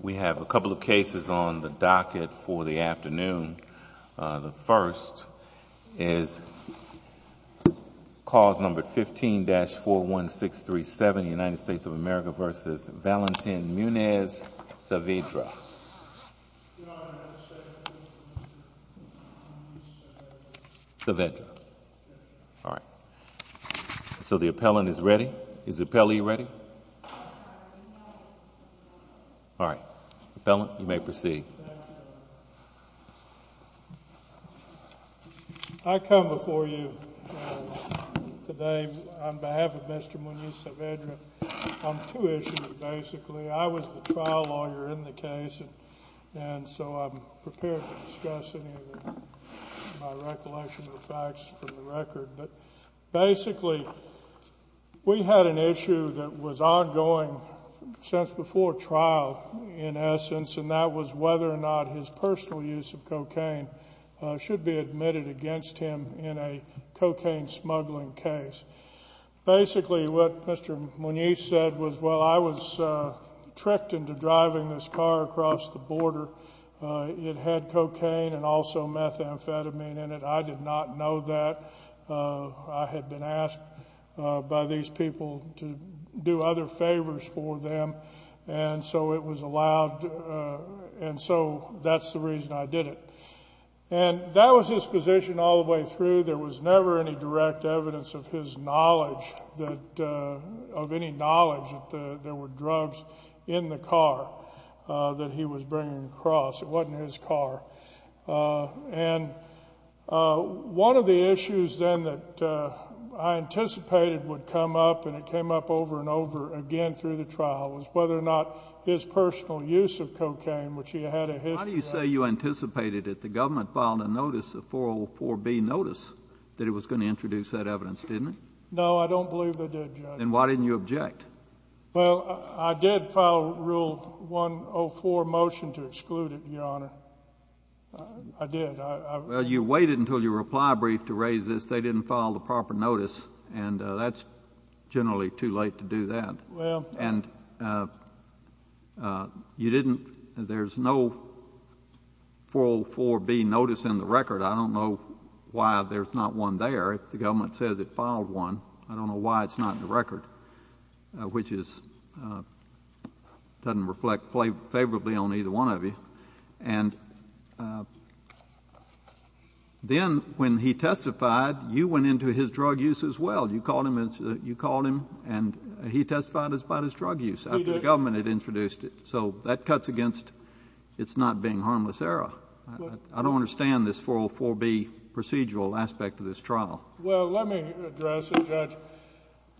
We have a couple of cases on the docket for the afternoon. The first is cause number 15-41637, United States of America v. Valentin Muniz-Saavedra. So the appellant is ready. Is the appellee ready? All right. Appellant, you may proceed. I come before you today on behalf of Mr. Muniz-Saavedra on two issues, basically. I was the trial lawyer in the case, and so I'm prepared to discuss any of my recollection of facts from the record. Basically, we had an issue that was ongoing since before trial, in essence, and that was whether or not his personal use of cocaine should be admitted against him in a cocaine smuggling case. Basically, what Mr. Muniz said was, well, I was tricked into driving this car across the border. It had cocaine and also methamphetamine in it. I did not know that. I had been asked by these people to do other favors for them, and so it was allowed, and so that's the reason I did it. And that was his position all the way through. There was never any direct evidence of his knowledge, of any knowledge that there were drugs in the car that he was bringing across. It wasn't his car. And one of the issues then that I anticipated would come up, and it came up over and over again through the trial, was whether or not his personal use of cocaine, which he had a history of. How do you say you anticipated that the government filed a notice, a 404B notice, that it was going to introduce that evidence, didn't it? No, I don't believe they did, Judge. Then why didn't you object? Well, I did file Rule 104 motion to exclude it, Your Honor. I did. Well, you waited until your reply brief to raise this. They didn't file the proper notice, and that's generally too late to do that. Well — And you didn't — there's no 404B notice in the record. I don't know why there's not one there. If the government says it filed one, I don't know why it's not in the record, which is — doesn't reflect favorably on either one of you. And then when he testified, you went into his drug use as well. You called him — you called him, and he testified about his drug use — He did. — after the government had introduced it. So that cuts against its not being harmless I don't understand this 404B procedural aspect of this trial. Well, let me address it, Judge.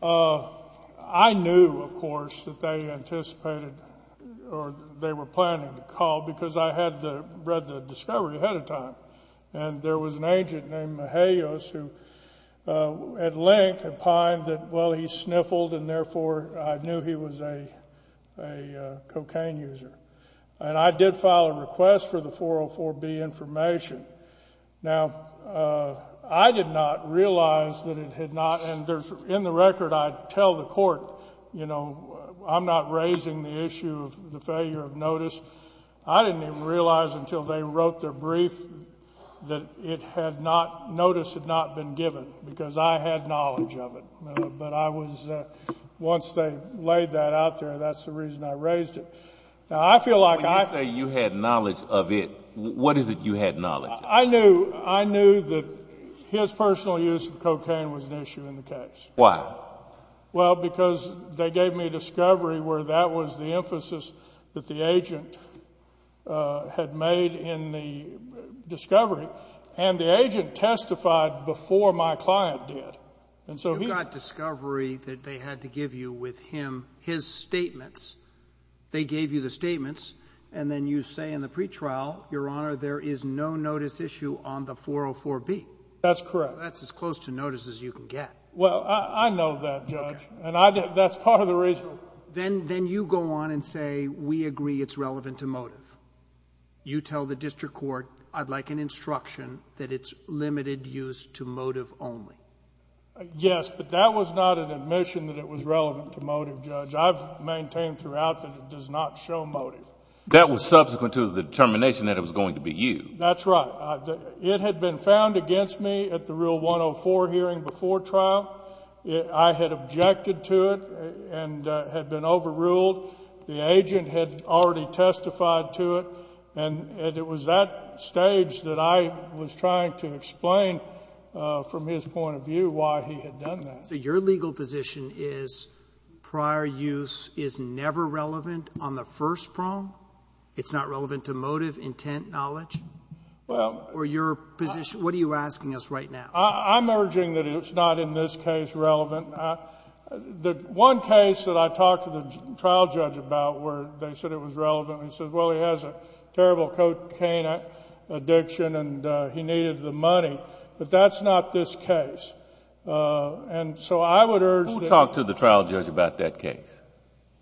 I knew, of course, that they anticipated or they were planning to call because I had read the discovery ahead of time. And there was an agent named Mejaios who, at length, opined that, well, he sniffled, and therefore I knew he was a Now, I did not realize that it had not — and there's — in the record, I tell the court, you know, I'm not raising the issue of the failure of notice. I didn't even realize until they wrote their brief that it had not — notice had not been given because I had knowledge of it. But I was — once they laid that out there, that's the reason I raised it. Now, I feel like I — What is it you had knowledge of? I knew. I knew that his personal use of cocaine was an issue in the case. Why? Well, because they gave me a discovery where that was the emphasis that the agent had made in the discovery. And the agent testified before my client did. And so he — You got discovery that they had to give you with him his statements. They gave you the Your Honor, there is no notice issue on the 404B. That's correct. That's as close to notice as you can get. Well, I know that, Judge. And I — that's part of the reason. Then you go on and say, we agree it's relevant to motive. You tell the district court, I'd like an instruction that it's limited use to motive only. Yes, but that was not an admission that it was relevant to motive, Judge. I've maintained throughout that it does not show motive. That was subsequent to the determination that it was going to be you. That's right. It had been found against me at the Rule 104 hearing before trial. I had objected to it and had been overruled. The agent had already testified to it. And it was that stage that I was trying to explain from his point of view why he had done that. So your legal position is prior use is never relevant on the first prong? It's not relevant to motive, intent, knowledge? Well — Or your position — what are you asking us right now? I'm urging that it's not in this case relevant. The one case that I talked to the trial judge about where they said it was relevant, he said, well, he has a terrible cocaine addiction and he needed the money. But that's not this case. And so I would urge that — Who talked to the trial judge about that case?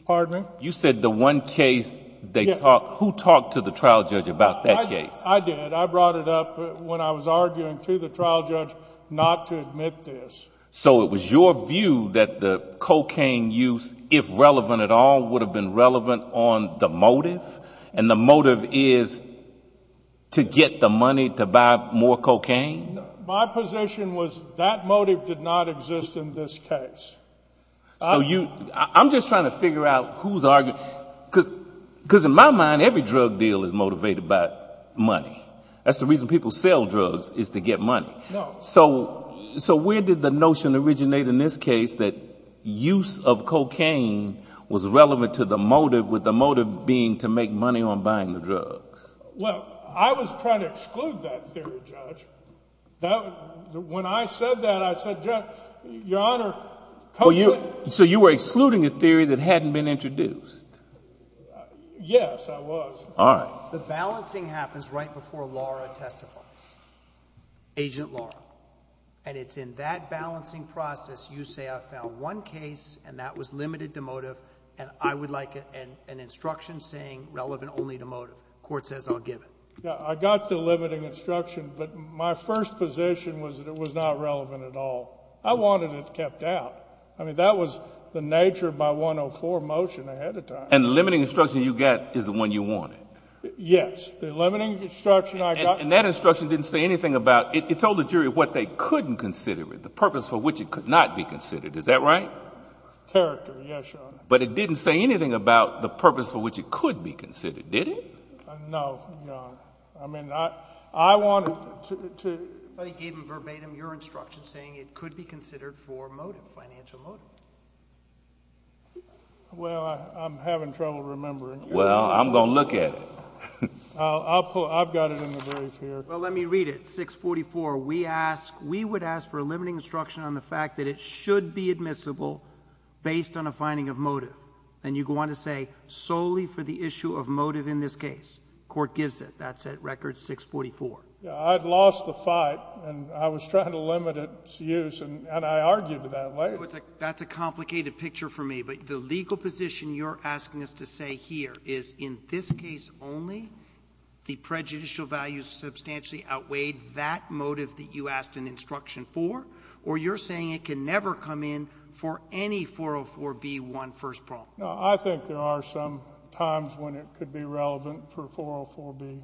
Pardon me? You said the one case they talked — who talked to the trial judge about that case? I did. I brought it up when I was arguing to the trial judge not to admit this. So it was your view that the cocaine use, if relevant at all, would have been relevant on the motive? And the motive is to get the money to buy more cocaine? My position was that motive did not exist in this case. So you — I'm just trying to figure out who's arguing — because in my mind, every drug deal is motivated by money. That's the reason people sell drugs, is to get money. So where did the notion originate in this case that use of cocaine was relevant to the motive, with the motive being to make money on buying the drugs? Well, I was trying to exclude that theory, Judge. When I said that, I said, Judge, Your Honor — So you were excluding a theory that hadn't been introduced? Yes, I was. All right. The balancing happens right before Laura testifies, Agent Laura. And it's in that balancing process you say I found one case and that was limited to motive and I would like an instruction saying relevant only to motive. Court says I'll give it. I got the limiting instruction, but my first position was that it was not relevant at all. I wanted it kept out. I mean, that was the nature of my 104 motion ahead of time. And the limiting instruction you got is the one you wanted? Yes. The limiting instruction I got — And that instruction didn't say anything about — it told the jury what they couldn't consider it, the purpose for which it could not be considered. Is that right? Character, yes, Your Honor. But it didn't say anything about the purpose for which it could be considered, did it? No, Your Honor. I mean, I wanted to — But he gave them verbatim your instruction saying it could be considered for motive, financial motive. Well, I'm having trouble remembering. Well, I'm going to look at it. I've got it in the brief here. Well, let me read it. We would ask for a limiting instruction on the fact that it should be admissible based on a finding of motive. And you want to say solely for the issue of motive in this case. Court gives it. That's at record 644. I'd lost the fight, and I was trying to limit its use, and I argued that later. That's a complicated picture for me. But the legal position you're asking us to say here is in this case only, the prejudicial value substantially outweighed that motive that you asked an instruction for, or you're saying it can never come in for any 404b1 first prong? No, I think there are some times when it could be relevant for 404b1.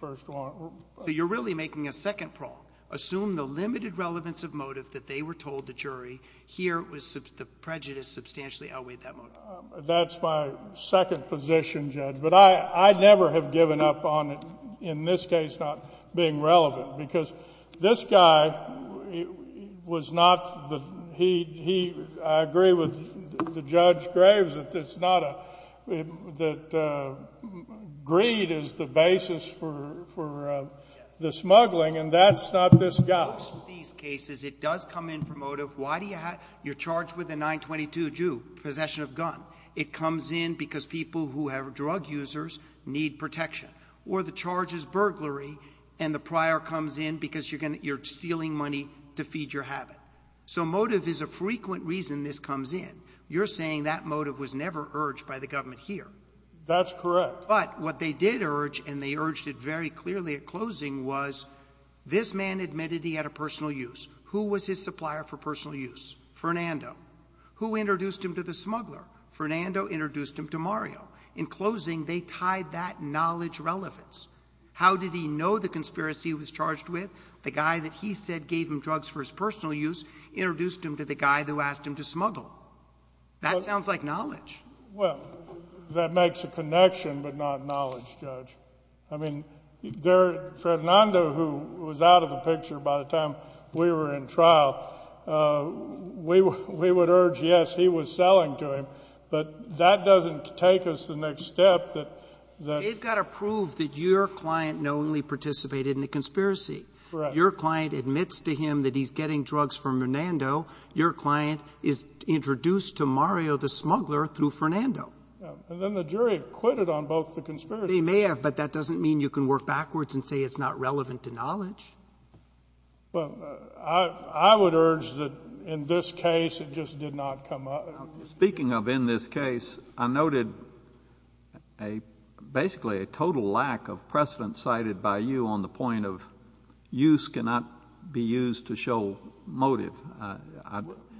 So you're really making a second prong. Assume the limited relevance of motive that they were told, the jury. Here, the prejudice substantially outweighed that motive. That's my second position, Judge. But I'd never have given up on it, in this case, not being relevant, because this guy was not the heat. I agree with Judge Graves that greed is the basis for the smuggling, and that's not this guy. In most of these cases, it does come in for motive. You're charged with a 922 due, possession of gun. It comes in because people who have drug users need protection. Or the charge is burglary, and the prior comes in because you're stealing money to feed your habit. So motive is a frequent reason this comes in. You're saying that motive was never urged by the government here. That's correct. But what they did urge, and they urged it very clearly at closing, was this man admitted he had a personal use. Who was his supplier for personal use? Fernando. Who introduced him to the smuggler? Fernando introduced him to Mario. In closing, they tied that knowledge relevance. How did he know the conspiracy he was charged with? The guy that he said gave him drugs for his personal use introduced him to the guy who asked him to smuggle. That sounds like knowledge. Well, that makes a connection but not knowledge, Judge. I mean, Fernando, who was out of the picture by the time we were in trial, we would urge, yes, he was selling to him. But that doesn't take us to the next step. You've got to prove that your client knowingly participated in the conspiracy. Correct. Your client admits to him that he's getting drugs from Fernando. Your client is introduced to Mario the smuggler through Fernando. And then the jury acquitted on both the conspiracies. They may have, but that doesn't mean you can work backwards and say it's not relevant to knowledge. Well, I would urge that in this case it just did not come up. Speaking of in this case, I noted basically a total lack of precedent cited by you on the point of use cannot be used to show motive.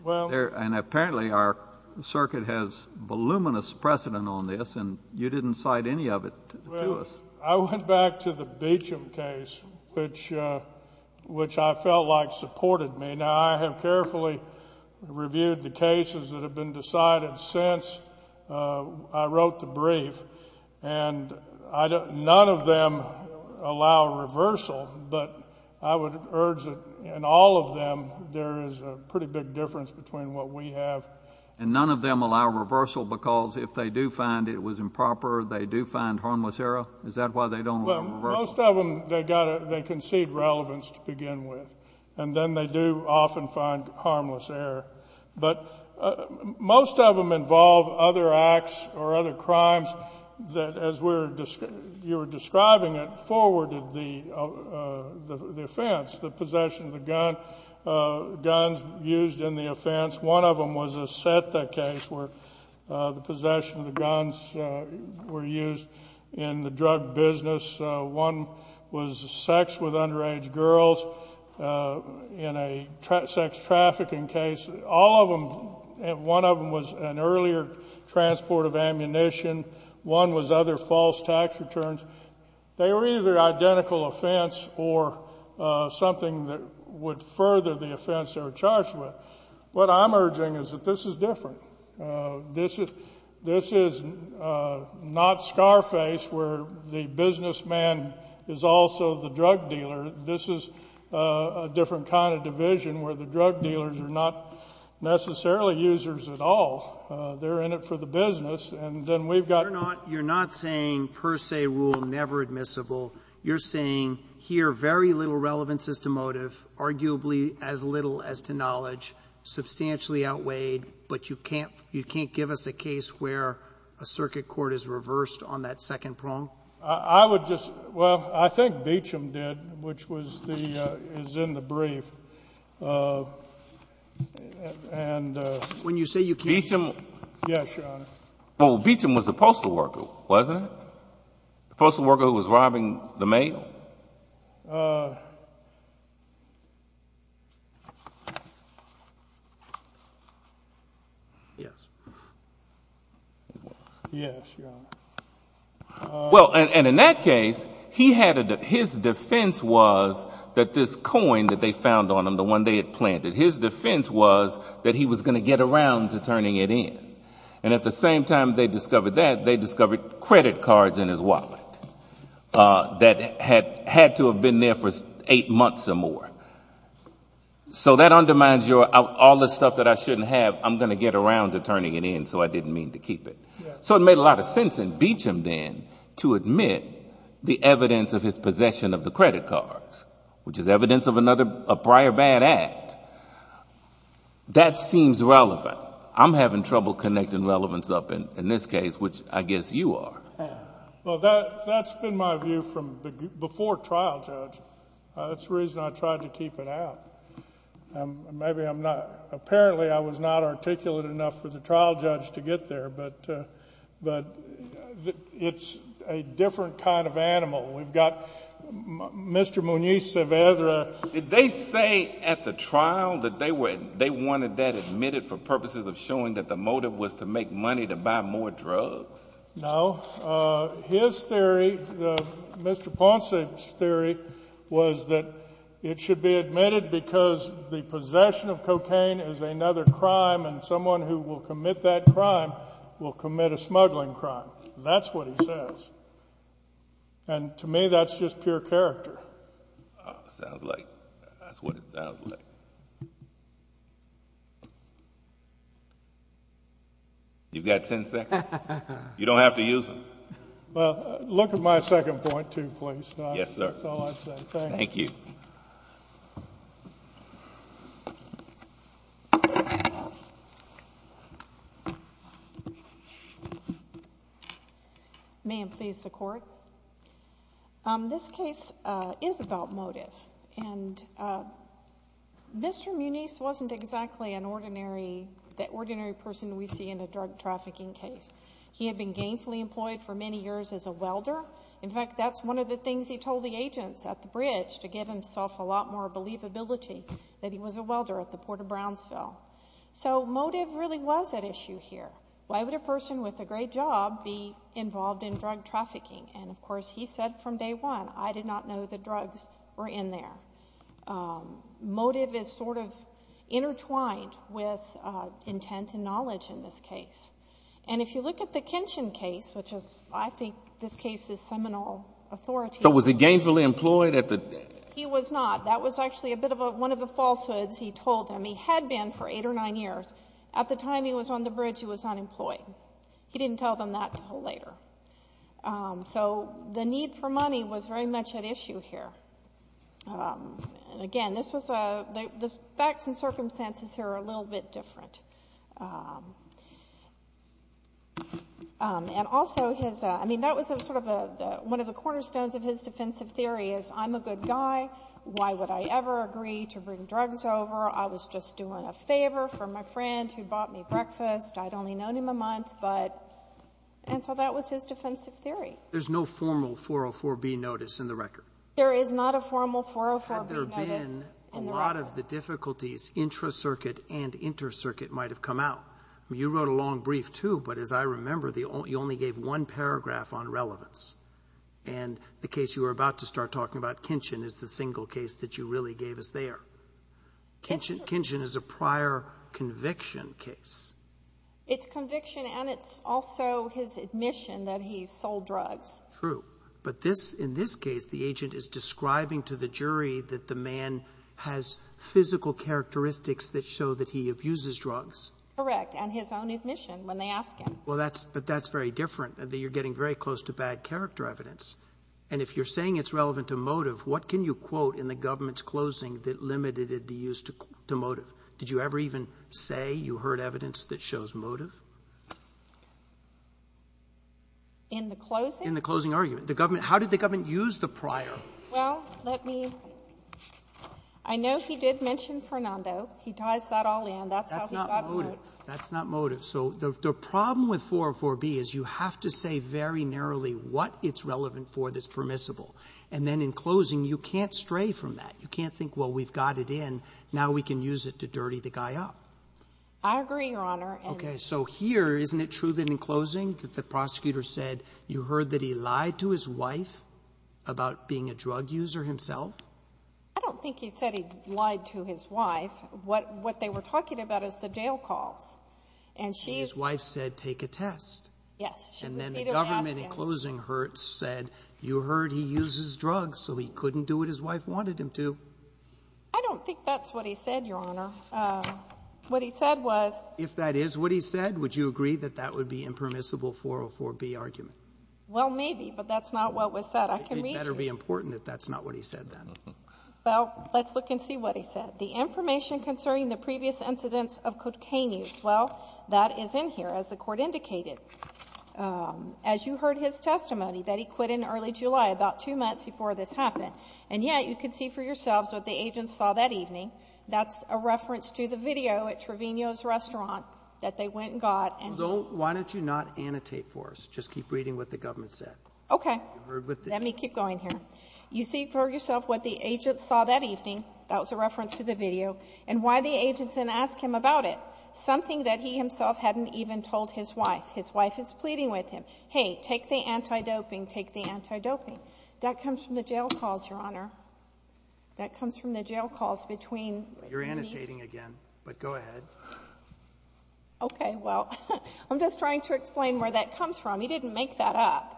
And apparently our circuit has voluminous precedent on this, and you didn't cite any of it to us. Well, I went back to the Beecham case, which I felt like supported me. Now, I have carefully reviewed the cases that have been decided since I wrote the brief, and none of them allow reversal. But I would urge that in all of them there is a pretty big difference between what we have. And none of them allow reversal because if they do find it was improper, they do find harmless error? Is that why they don't allow reversal? Well, most of them, they concede relevance to begin with. And then they do often find harmless error. But most of them involve other acts or other crimes that, as you were describing it, forwarded the offense, the possession of the guns used in the offense. One of them was a SETA case where the possession of the guns were used in the drug business. One was sex with underage girls in a sex trafficking case. All of them, one of them was an earlier transport of ammunition. One was other false tax returns. They were either identical offense or something that would further the offense they were charged with. This is not Scarface where the businessman is also the drug dealer. This is a different kind of division where the drug dealers are not necessarily users at all. They're in it for the business. And then we've got ---- You're not saying per se rule never admissible. You're saying here very little relevance is to motive, arguably as little as to knowledge, substantially outweighed. But you can't give us a case where a circuit court is reversed on that second prong? I would just ---- Well, I think Beecham did, which was the ---- is in the brief. And ---- When you say you can't ---- Beecham. Yes, Your Honor. Well, Beecham was a postal worker, wasn't he? A postal worker who was robbing the mail? Yes. Yes, Your Honor. Well, and in that case, he had a ---- his defense was that this coin that they found on him, the one they had planted, his defense was that he was going to get around to turning it in. And at the same time they discovered that, they discovered credit cards in his wallet that had to have been there for eight months or more. So that undermines your ---- all the stuff that I shouldn't have, I'm going to get around to turning it in, so I didn't mean to keep it. So it made a lot of sense in Beecham then to admit the evidence of his possession of the credit cards, which is evidence of another prior bad act. That seems relevant. But I'm having trouble connecting relevance up in this case, which I guess you are. Well, that's been my view from before trial, Judge. That's the reason I tried to keep it out. Maybe I'm not ---- apparently I was not articulate enough for the trial judge to get there. But it's a different kind of animal. We've got Mr. Muniz-Cevedra. Did they say at the trial that they wanted that admitted for purposes of showing that the motive was to make money to buy more drugs? No. His theory, Mr. Ponce's theory was that it should be admitted because the possession of cocaine is another crime, and someone who will commit that crime will commit a smuggling crime. That's what he says. And to me that's just pure character. Sounds like... that's what it sounds like. You've got ten seconds. You don't have to use them. Well, look at my second point too, please. Yes, sir. That's all I said. Thank you. May it please the Court. This case is about motive. And Mr. Muniz wasn't exactly an ordinary person we see in a drug trafficking case. He had been gainfully employed for many years as a welder. In fact, that's one of the things he told the agents at the bridge to give himself a lot more believability, that he was a welder at the Port of Brownsville. So motive really was at issue here. Why would a person with a great job be involved in drug trafficking? And, of course, he said from day one, I did not know the drugs were in there. Motive is sort of intertwined with intent and knowledge in this case. And if you look at the Kenshin case, which is, I think, this case is seminal authority... So was he gainfully employed at the... He was not. That was actually a bit of one of the falsehoods he told them. He had been for eight or nine years. At the time he was on the bridge, he was unemployed. He didn't tell them that until later. So the need for money was very much at issue here. And, again, this was a... the facts and circumstances here are a little bit different. And also his... I mean, that was sort of one of the cornerstones of his defensive theory is, I'm a good guy. Why would I ever agree to bring drugs over? I was just doing a favor for my friend who bought me breakfast. I'd only known him a month, but... and so that was his defensive theory. Roberts. There's no formal 404B notice in the record. There is not a formal 404B notice in the record. Had there been, a lot of the difficulties, intra-circuit and inter-circuit might have come out. You wrote a long brief, too, but as I remember, you only gave one paragraph on relevance. And the case you were about to start talking about, Kenshin, is the single case that you really gave us there. Kenshin is a prior conviction case. It's conviction and it's also his admission that he sold drugs. True. But this... in this case, the agent is describing to the jury that the man has physical characteristics that show that he abuses drugs. Correct. And his own admission when they ask him. Well, that's... but that's very different. You're getting very close to bad character evidence. And if you're saying it's relevant to motive, what can you quote in the government's closing that limited the use to motive? Did you ever even say you heard evidence that shows motive? In the closing? In the closing argument. The government, how did the government use the prior? Well, let me, I know he did mention Fernando. He ties that all in. That's how he got the motive. That's not motive. That's not motive. So the problem with 404B is you have to say very narrowly what it's relevant for that's permissible. And then in closing, you can't stray from that. You can't think, well, we've got it in, now we can use it to dirty the guy up. I agree, Your Honor. Okay. So here, isn't it true that in closing that the prosecutor said you heard that he lied to his wife about being a drug user himself? I don't think he said he lied to his wife. What they were talking about is the jail calls. And she's... And his wife said take a test. Yes. And then the government in closing said you heard he uses drugs, so he couldn't do what his wife wanted him to. I don't think that's what he said, Your Honor. What he said was... If that is what he said, would you agree that that would be impermissible 404B argument? Well, maybe, but that's not what was said. I can read you. It better be important that that's not what he said, then. Well, let's look and see what he said. The information concerning the previous incidents of cocaine use, well, that is in here, as the Court indicated. As you heard his testimony, that he quit in early July, about two months before this happened. And yet, you can see for yourselves what the agents saw that evening. That's a reference to the video at Trevino's restaurant that they went and got. Why don't you not annotate for us? Just keep reading what the government said. Okay. Let me keep going here. You see for yourself what the agents saw that evening. That was a reference to the video. And why the agents didn't ask him about it. Something that he himself hadn't even told his wife. His wife is pleading with him. Hey, take the anti-doping. Take the anti-doping. That comes from the jail calls, Your Honor. That comes from the jail calls between these. You're annotating again. But go ahead. Okay. Well, I'm just trying to explain where that comes from. He didn't make that up.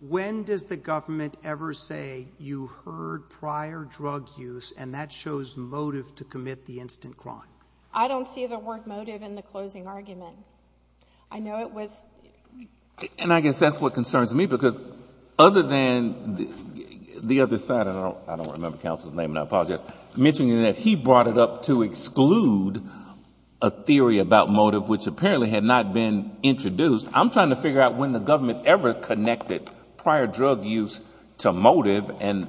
When does the government ever say, you heard prior drug use and that shows motive to commit the instant crime? I don't see the word motive in the closing argument. I know it was. And I guess that's what concerns me because other than the other side, I don't remember counsel's name and I apologize, mentioning that he brought it up to exclude a theory about motive, which apparently had not been introduced. I'm trying to figure out when the government ever connected prior drug use to motive and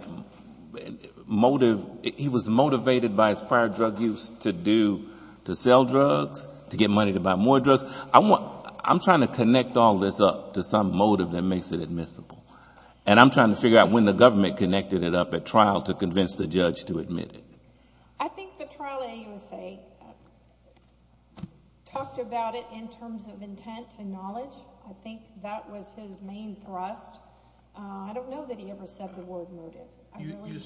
motive, he was motivated by his prior drug use to do, to sell drugs, to get money to buy more drugs. I'm trying to connect all this up to some motive that makes it admissible. And I'm trying to figure out when the government connected it up at trial to convince the judge to admit it. I think the trial AUSA talked about it in terms of intent and knowledge. I think that was his main thrust. I don't know that he ever said the word motive. You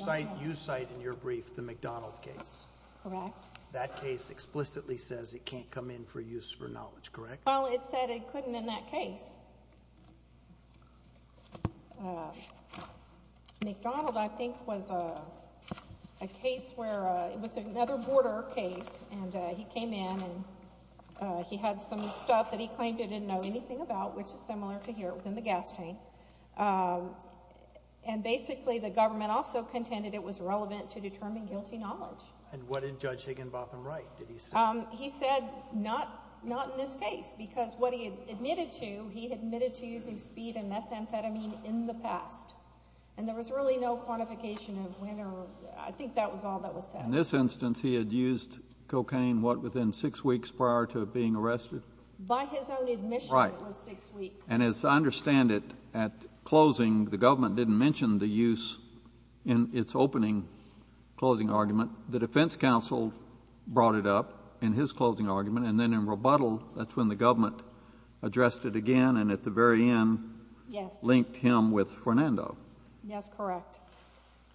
cite in your brief the McDonald case. Correct. That case explicitly says it can't come in for use for knowledge, correct? Well, it said it couldn't in that case. McDonald, I think, was a case where it was another border case, and he came in and he had some stuff that he claimed he didn't know anything about, which is similar to here. It was in the gas tank. And basically the government also contended it was relevant to determine guilty knowledge. And what did Judge Higginbotham write? Did he say? He said not in this case because what he admitted to, he admitted to using speed and methamphetamine in the past. And there was really no quantification of when or I think that was all that was said. In this instance he had used cocaine, what, within six weeks prior to being arrested? By his own admission it was six weeks. And as I understand it, at closing the government didn't mention the use in its opening closing argument. The defense counsel brought it up in his closing argument, and then in rebuttal that's when the government addressed it again and at the very end linked him with Fernando. Yes, correct.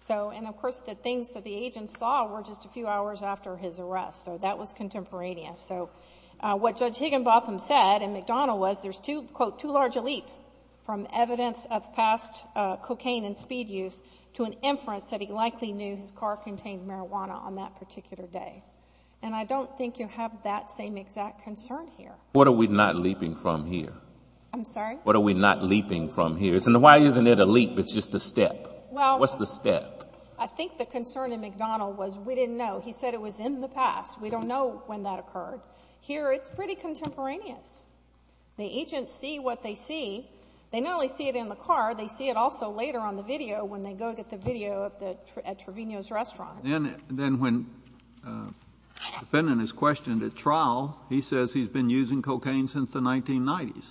And, of course, the things that the agent saw were just a few hours after his arrest. So that was contemporaneous. From evidence of past cocaine and speed use to an inference that he likely knew his car contained marijuana on that particular day. And I don't think you have that same exact concern here. What are we not leaping from here? I'm sorry? What are we not leaping from here? Why isn't it a leap? It's just a step. Well. What's the step? I think the concern in McDonald was we didn't know. He said it was in the past. We don't know when that occurred. Here it's pretty contemporaneous. The agents see what they see. They not only see it in the car, they see it also later on the video when they go get the video at Trevino's restaurant. Then when the defendant is questioned at trial, he says he's been using cocaine since the 1990s.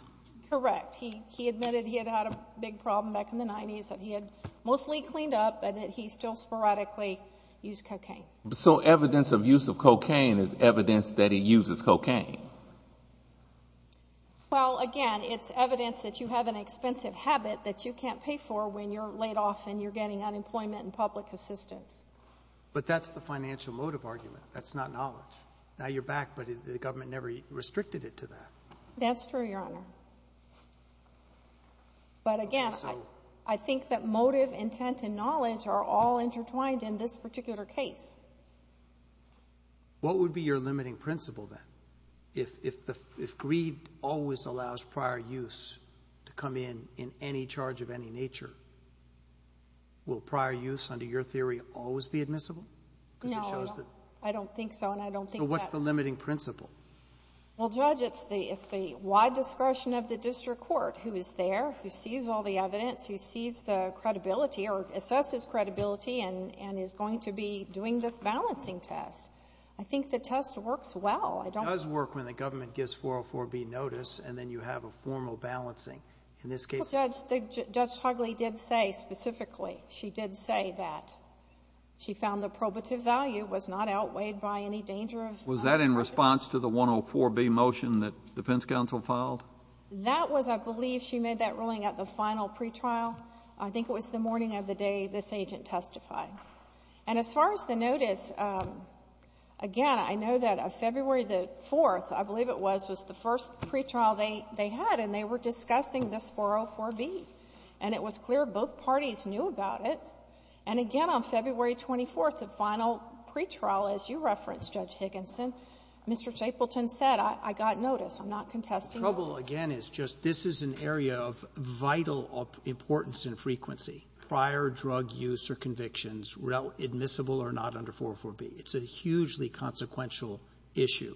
Correct. He admitted he had had a big problem back in the 90s that he had mostly cleaned up but that he still sporadically used cocaine. So evidence of use of cocaine is evidence that he uses cocaine. Well, again, it's evidence that you have an expensive habit that you can't pay for when you're laid off and you're getting unemployment and public assistance. But that's the financial motive argument. That's not knowledge. Now you're back, but the government never restricted it to that. That's true, Your Honor. But, again, I think that motive, intent, and knowledge are all intertwined in this particular case. What would be your limiting principle then? If greed always allows prior use to come in in any charge of any nature, will prior use under your theory always be admissible? No, I don't think so, and I don't think that's... So what's the limiting principle? Well, Judge, it's the wide discretion of the district court who is there, who sees all the evidence, who sees the credibility or assesses credibility and is going to be doing this balancing test. I think the test works well. It does work when the government gives 404B notice and then you have a formal balancing. In this case... Judge Togliatti did say specifically, she did say that she found the probative value was not outweighed by any danger of... Was that in response to the 104B motion that defense counsel filed? That was, I believe, she made that ruling at the final pretrial. I think it was the morning of the day this agent testified. And as far as the notice, again, I know that February the 4th, I believe it was, was the first pretrial they had, and they were discussing this 404B. And it was clear both parties knew about it. And again, on February 24th, the final pretrial, as you referenced, Judge Higginson, Mr. Chapleton said, I got notice. I'm not contesting notice. The trouble, again, is just this is an area of vital importance in frequency, prior drug use or convictions admissible or not under 404B. It's a hugely consequential issue.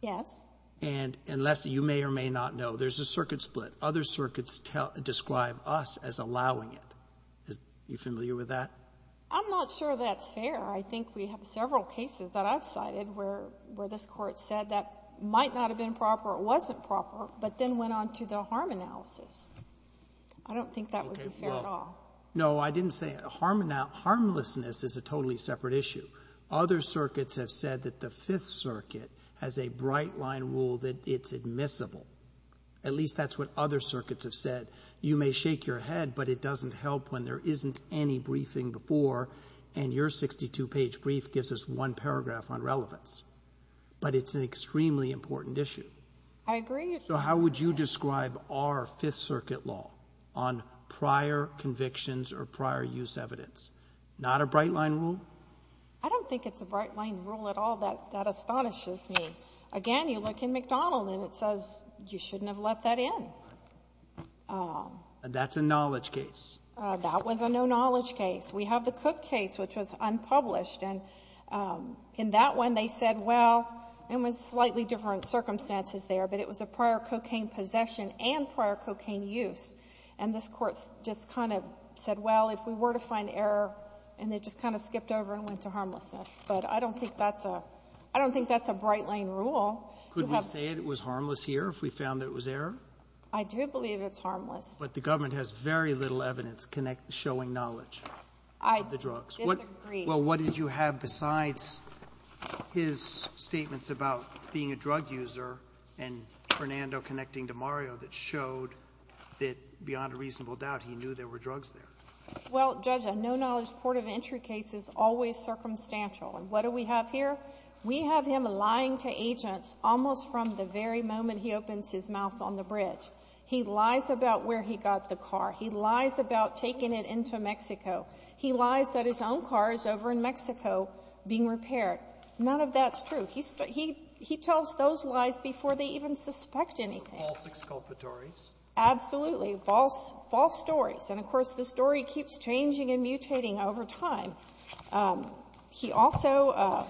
Yes. And unless you may or may not know, there's a circuit split. Other circuits describe us as allowing it. Are you familiar with that? I'm not sure that's fair. I think we have several cases that I've cited where this Court said that might not have been proper or wasn't proper but then went on to the harm analysis. I don't think that would be fair at all. No, I didn't say it. Harmlessness is a totally separate issue. Other circuits have said that the Fifth Circuit has a bright line rule that it's admissible. At least that's what other circuits have said. You may shake your head, but it doesn't help when there isn't any briefing before and your 62-page brief gives us one paragraph on relevance. But it's an extremely important issue. I agree. So how would you describe our Fifth Circuit law on prior convictions or prior use evidence? Not a bright line rule? I don't think it's a bright line rule at all. That astonishes me. Again, you look in McDonald and it says you shouldn't have let that in. That's a knowledge case. That was a no knowledge case. We have the Cook case, which was unpublished. In that one they said, well, it was slightly different circumstances there, but it was a prior cocaine possession and prior cocaine use. And this court just kind of said, well, if we were to find error, and they just kind of skipped over and went to harmlessness. But I don't think that's a bright line rule. Could we say it was harmless here if we found that it was error? I do believe it's harmless. But the government has very little evidence showing knowledge of the drugs. I disagree. Well, what did you have besides his statements about being a drug user and Fernando connecting to Mario that showed that beyond a reasonable doubt he knew there were drugs there? Well, Judge, a no knowledge court of entry case is always circumstantial. And what do we have here? We have him lying to agents almost from the very moment he opens his mouth on the bridge. He lies about where he got the car. He lies about taking it into Mexico. He lies that his own car is over in Mexico being repaired. None of that's true. He tells those lies before they even suspect anything. False exculpatories. Absolutely. False stories. And, of course, the story keeps changing and mutating over time. He also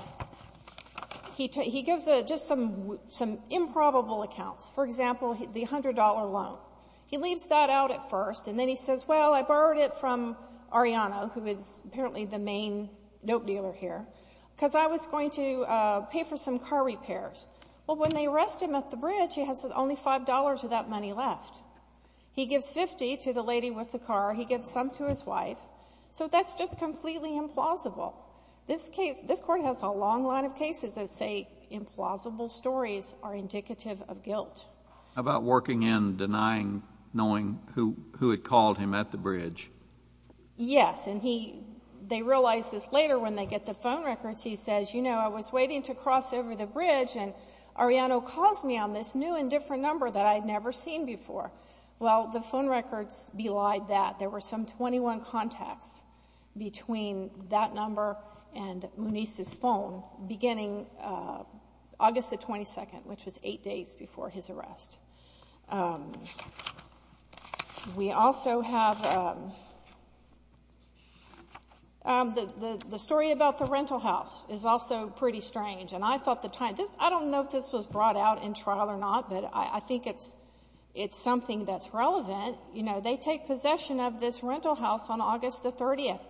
he gives just some improbable accounts. For example, the $100 loan. He leaves that out at first, and then he says, well, I borrowed it from Ariana, who is apparently the main dope dealer here, because I was going to pay for some car repairs. Well, when they arrest him at the bridge, he has only $5 of that money left. He gives $50 to the lady with the car. He gives some to his wife. So that's just completely implausible. This court has a long line of cases that say implausible stories are indicative of guilt. How about working in denying knowing who had called him at the bridge? Yes. And they realize this later when they get the phone records. He says, you know, I was waiting to cross over the bridge, and Ariana calls me on this new and different number that I had never seen before. Well, the phone records belied that. There were some 21 contacts between that number and Muniz's phone beginning August the 22nd, which was eight days before his arrest. We also have the story about the rental house is also pretty strange. I don't know if this was brought out in trial or not, but I think it's something that's relevant. You know, they take possession of this rental house on August the 30th.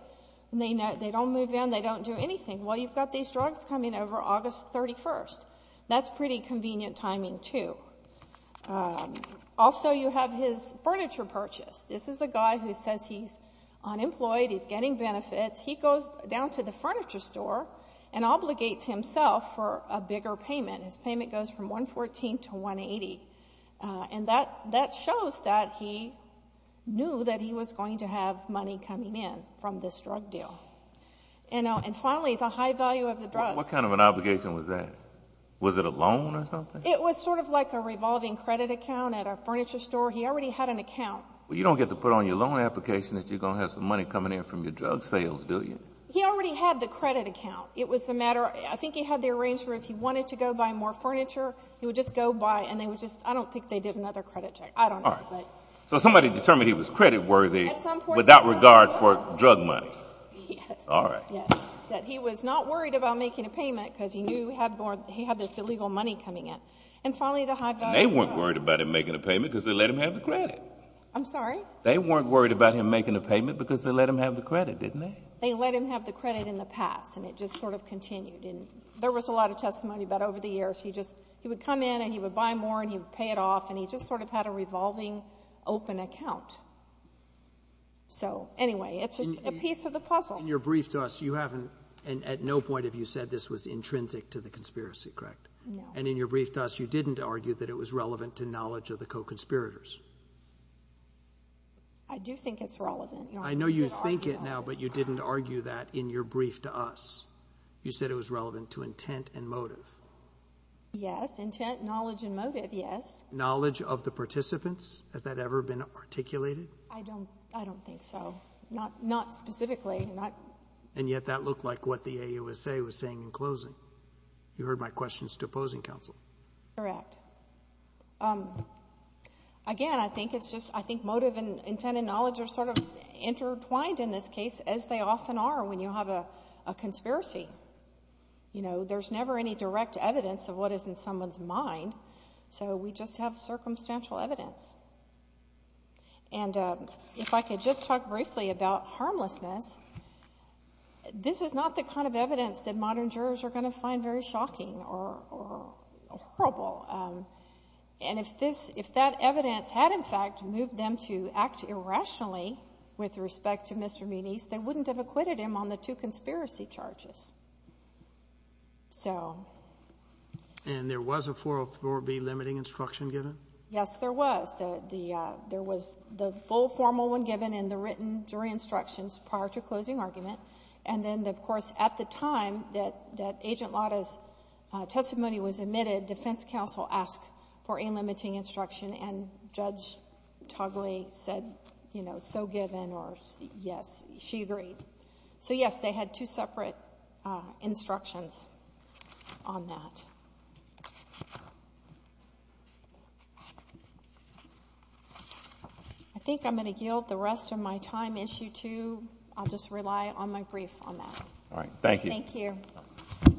They don't move in. They don't do anything. Well, you've got these drugs coming over August 31st. That's pretty convenient timing, too. Also, you have his furniture purchase. This is a guy who says he's unemployed, he's getting benefits. He goes down to the furniture store and obligates himself for a bigger payment. His payment goes from $114 to $180, and that shows that he knew that he was going to have money coming in from this drug deal. And finally, the high value of the drugs. What kind of an obligation was that? Was it a loan or something? It was sort of like a revolving credit account at a furniture store. He already had an account. Well, you don't get to put on your loan application that you're going to have some money coming in from your drug sales, do you? He already had the credit account. It was a matter of I think he had the arrangement if he wanted to go buy more furniture, he would just go buy, and I don't think they did another credit check. I don't know. So somebody determined he was credit worthy without regard for drug money. Yes. All right. That he was not worried about making a payment because he knew he had this illegal money coming in. And finally, the high value of the drugs. They weren't worried about him making a payment because they let him have the credit. I'm sorry? They weren't worried about him making a payment because they let him have the credit, didn't they? They let him have the credit in the past, and it just sort of continued. And there was a lot of testimony about over the years he would come in and he would buy more and he would pay it off, and he just sort of had a revolving open account. So anyway, it's just a piece of the puzzle. In your brief to us, you haven't, at no point have you said this was intrinsic to the conspiracy, correct? No. And in your brief to us, you didn't argue that it was relevant to knowledge of the co-conspirators. I do think it's relevant. I know you think it now, but you didn't argue that in your brief to us. You said it was relevant to intent and motive. Yes, intent, knowledge, and motive, yes. Knowledge of the participants, has that ever been articulated? I don't think so. Not specifically. And yet that looked like what the AUSA was saying in closing. You heard my questions to opposing counsel. Correct. Again, I think motive and intent and knowledge are sort of intertwined in this case, as they often are when you have a conspiracy. You know, there's never any direct evidence of what is in someone's mind, so we just have circumstantial evidence. And if I could just talk briefly about harmlessness, this is not the kind of evidence that modern jurors are going to find very shocking or horrible. And if that evidence had, in fact, moved them to act irrationally with respect to Mr. Muniz, they wouldn't have acquitted him on the two conspiracy charges. And there was a 404B limiting instruction given? Yes, there was. There was the full formal one given and the written jury instructions prior to closing argument. And then, of course, at the time that Agent Lada's testimony was admitted, defense counsel asked for a limiting instruction, and Judge Togley said, you know, so given or yes, she agreed. So, yes, they had two separate instructions on that. I think I'm going to yield the rest of my time, Issue 2. I'll just rely on my brief on that. All right. Thank you. Thank you.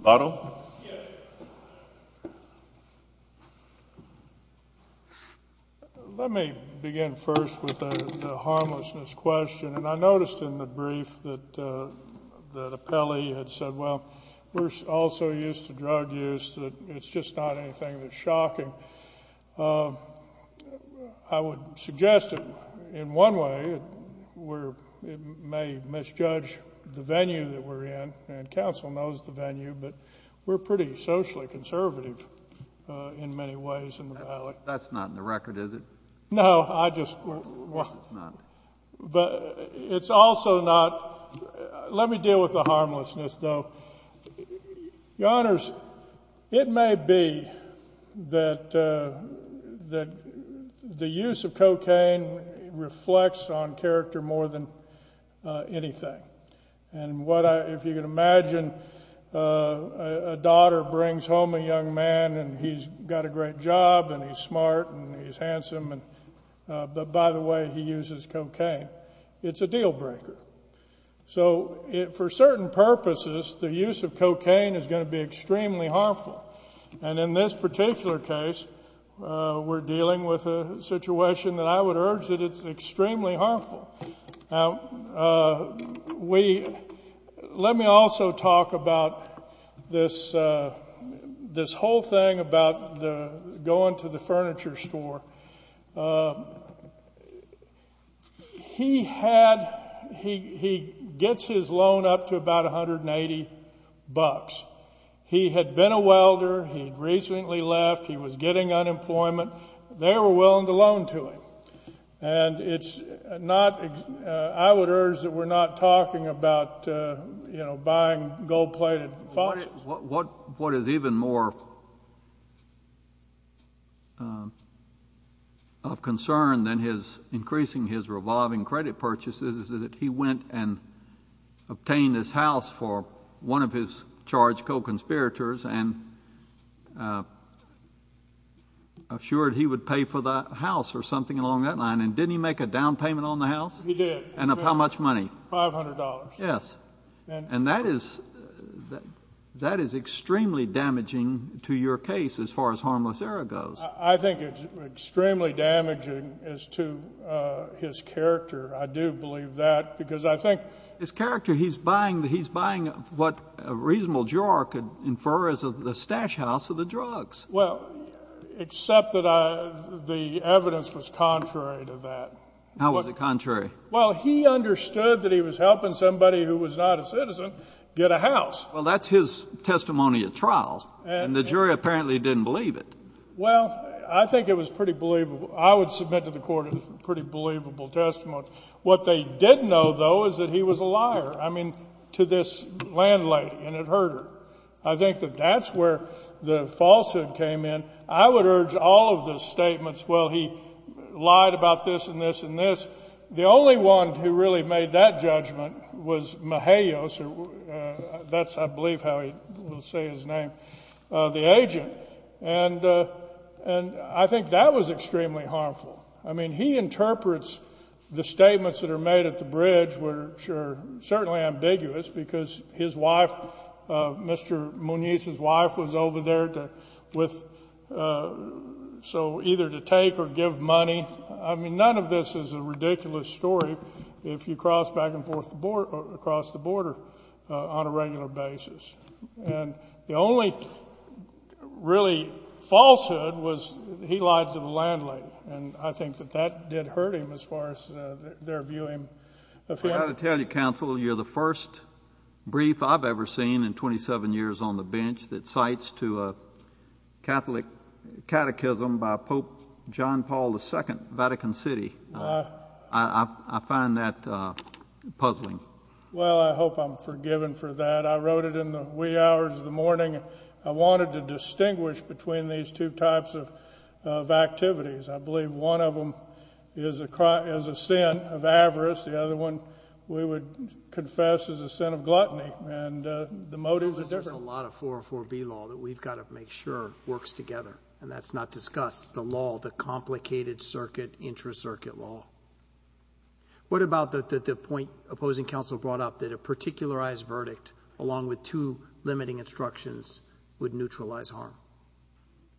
Butler? Let me begin first with the harmlessness question. And I noticed in the brief that Apelli had said, well, we're also used to drug use. It's just not anything that's shocking. I would suggest, in one way, it may misjudge the venue that we're in, and counsel knows the venue, but we're pretty socially conservative in many ways in the Valley. That's not in the record, is it? No, I just — It's not. But it's also not — let me deal with the harmlessness, though. Your Honors, it may be that the use of cocaine reflects on character more than anything. And if you can imagine a daughter brings home a young man, and he's got a great job, and he's smart, and he's handsome, but, by the way, he uses cocaine. It's a deal breaker. So for certain purposes, the use of cocaine is going to be extremely harmful. And in this particular case, we're dealing with a situation that I would urge that it's extremely harmful. Now, we — let me also talk about this whole thing about going to the furniture store. He had — he gets his loan up to about $180. He had been a welder. He had recently left. He was getting unemployment. They were willing to loan to him. And it's not — I would urge that we're not talking about, you know, buying gold-plated foxes. What is even more of concern than his increasing his revolving credit purchases is that he went and obtained his house for one of his charged co-conspirators and assured he would pay for the house or something along that line. And didn't he make a down payment on the house? He did. And of how much money? $500. Yes. And that is — that is extremely damaging to your case as far as harmless error goes. I think it's extremely damaging as to his character. I do believe that because I think — His character, he's buying what a reasonable juror could infer is the stash house for the drugs. Well, except that the evidence was contrary to that. How was it contrary? Well, he understood that he was helping somebody who was not a citizen get a house. Well, that's his testimony at trial. And the jury apparently didn't believe it. Well, I think it was pretty believable. I would submit to the court it was a pretty believable testimony. What they did know, though, is that he was a liar, I mean, to this landlady. And it hurt her. I think that that's where the falsehood came in. I would urge all of the statements, well, he lied about this and this and this, the only one who really made that judgment was Mejios. That's, I believe, how he will say his name, the agent. And I think that was extremely harmful. I mean, he interprets the statements that are made at the bridge, which are certainly ambiguous, because his wife, Mr. Munoz's wife, was over there with — so either to take or give money. I mean, none of this is a ridiculous story if you cross back and forth across the border on a regular basis. And the only really falsehood was he lied to the landlady. And I think that that did hurt him as far as their viewing of him. I've got to tell you, counsel, you're the first brief I've ever seen in 27 years on the bench that cites to a Catholic catechism by Pope John Paul II, Vatican City. I find that puzzling. Well, I hope I'm forgiven for that. I wrote it in the wee hours of the morning. I wanted to distinguish between these two types of activities. I believe one of them is a sin of avarice. The other one, we would confess, is a sin of gluttony. There's a lot of 404B law that we've got to make sure works together, and that's not discussed, the law, the complicated circuit, intracircuit law. What about the point opposing counsel brought up that a particularized verdict, along with two limiting instructions, would neutralize harm?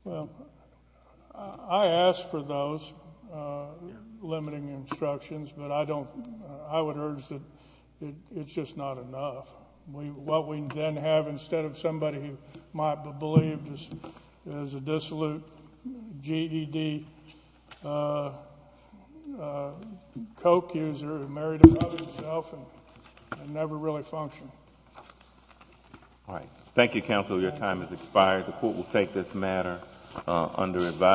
Well, I ask for those limiting instructions, but I would urge that it's just not enough. What we then have instead of somebody who might be believed as a dissolute GED Coke user who married above himself and never really functioned. All right. Thank you, counsel. Your time has expired. The court will take this matter under advisory.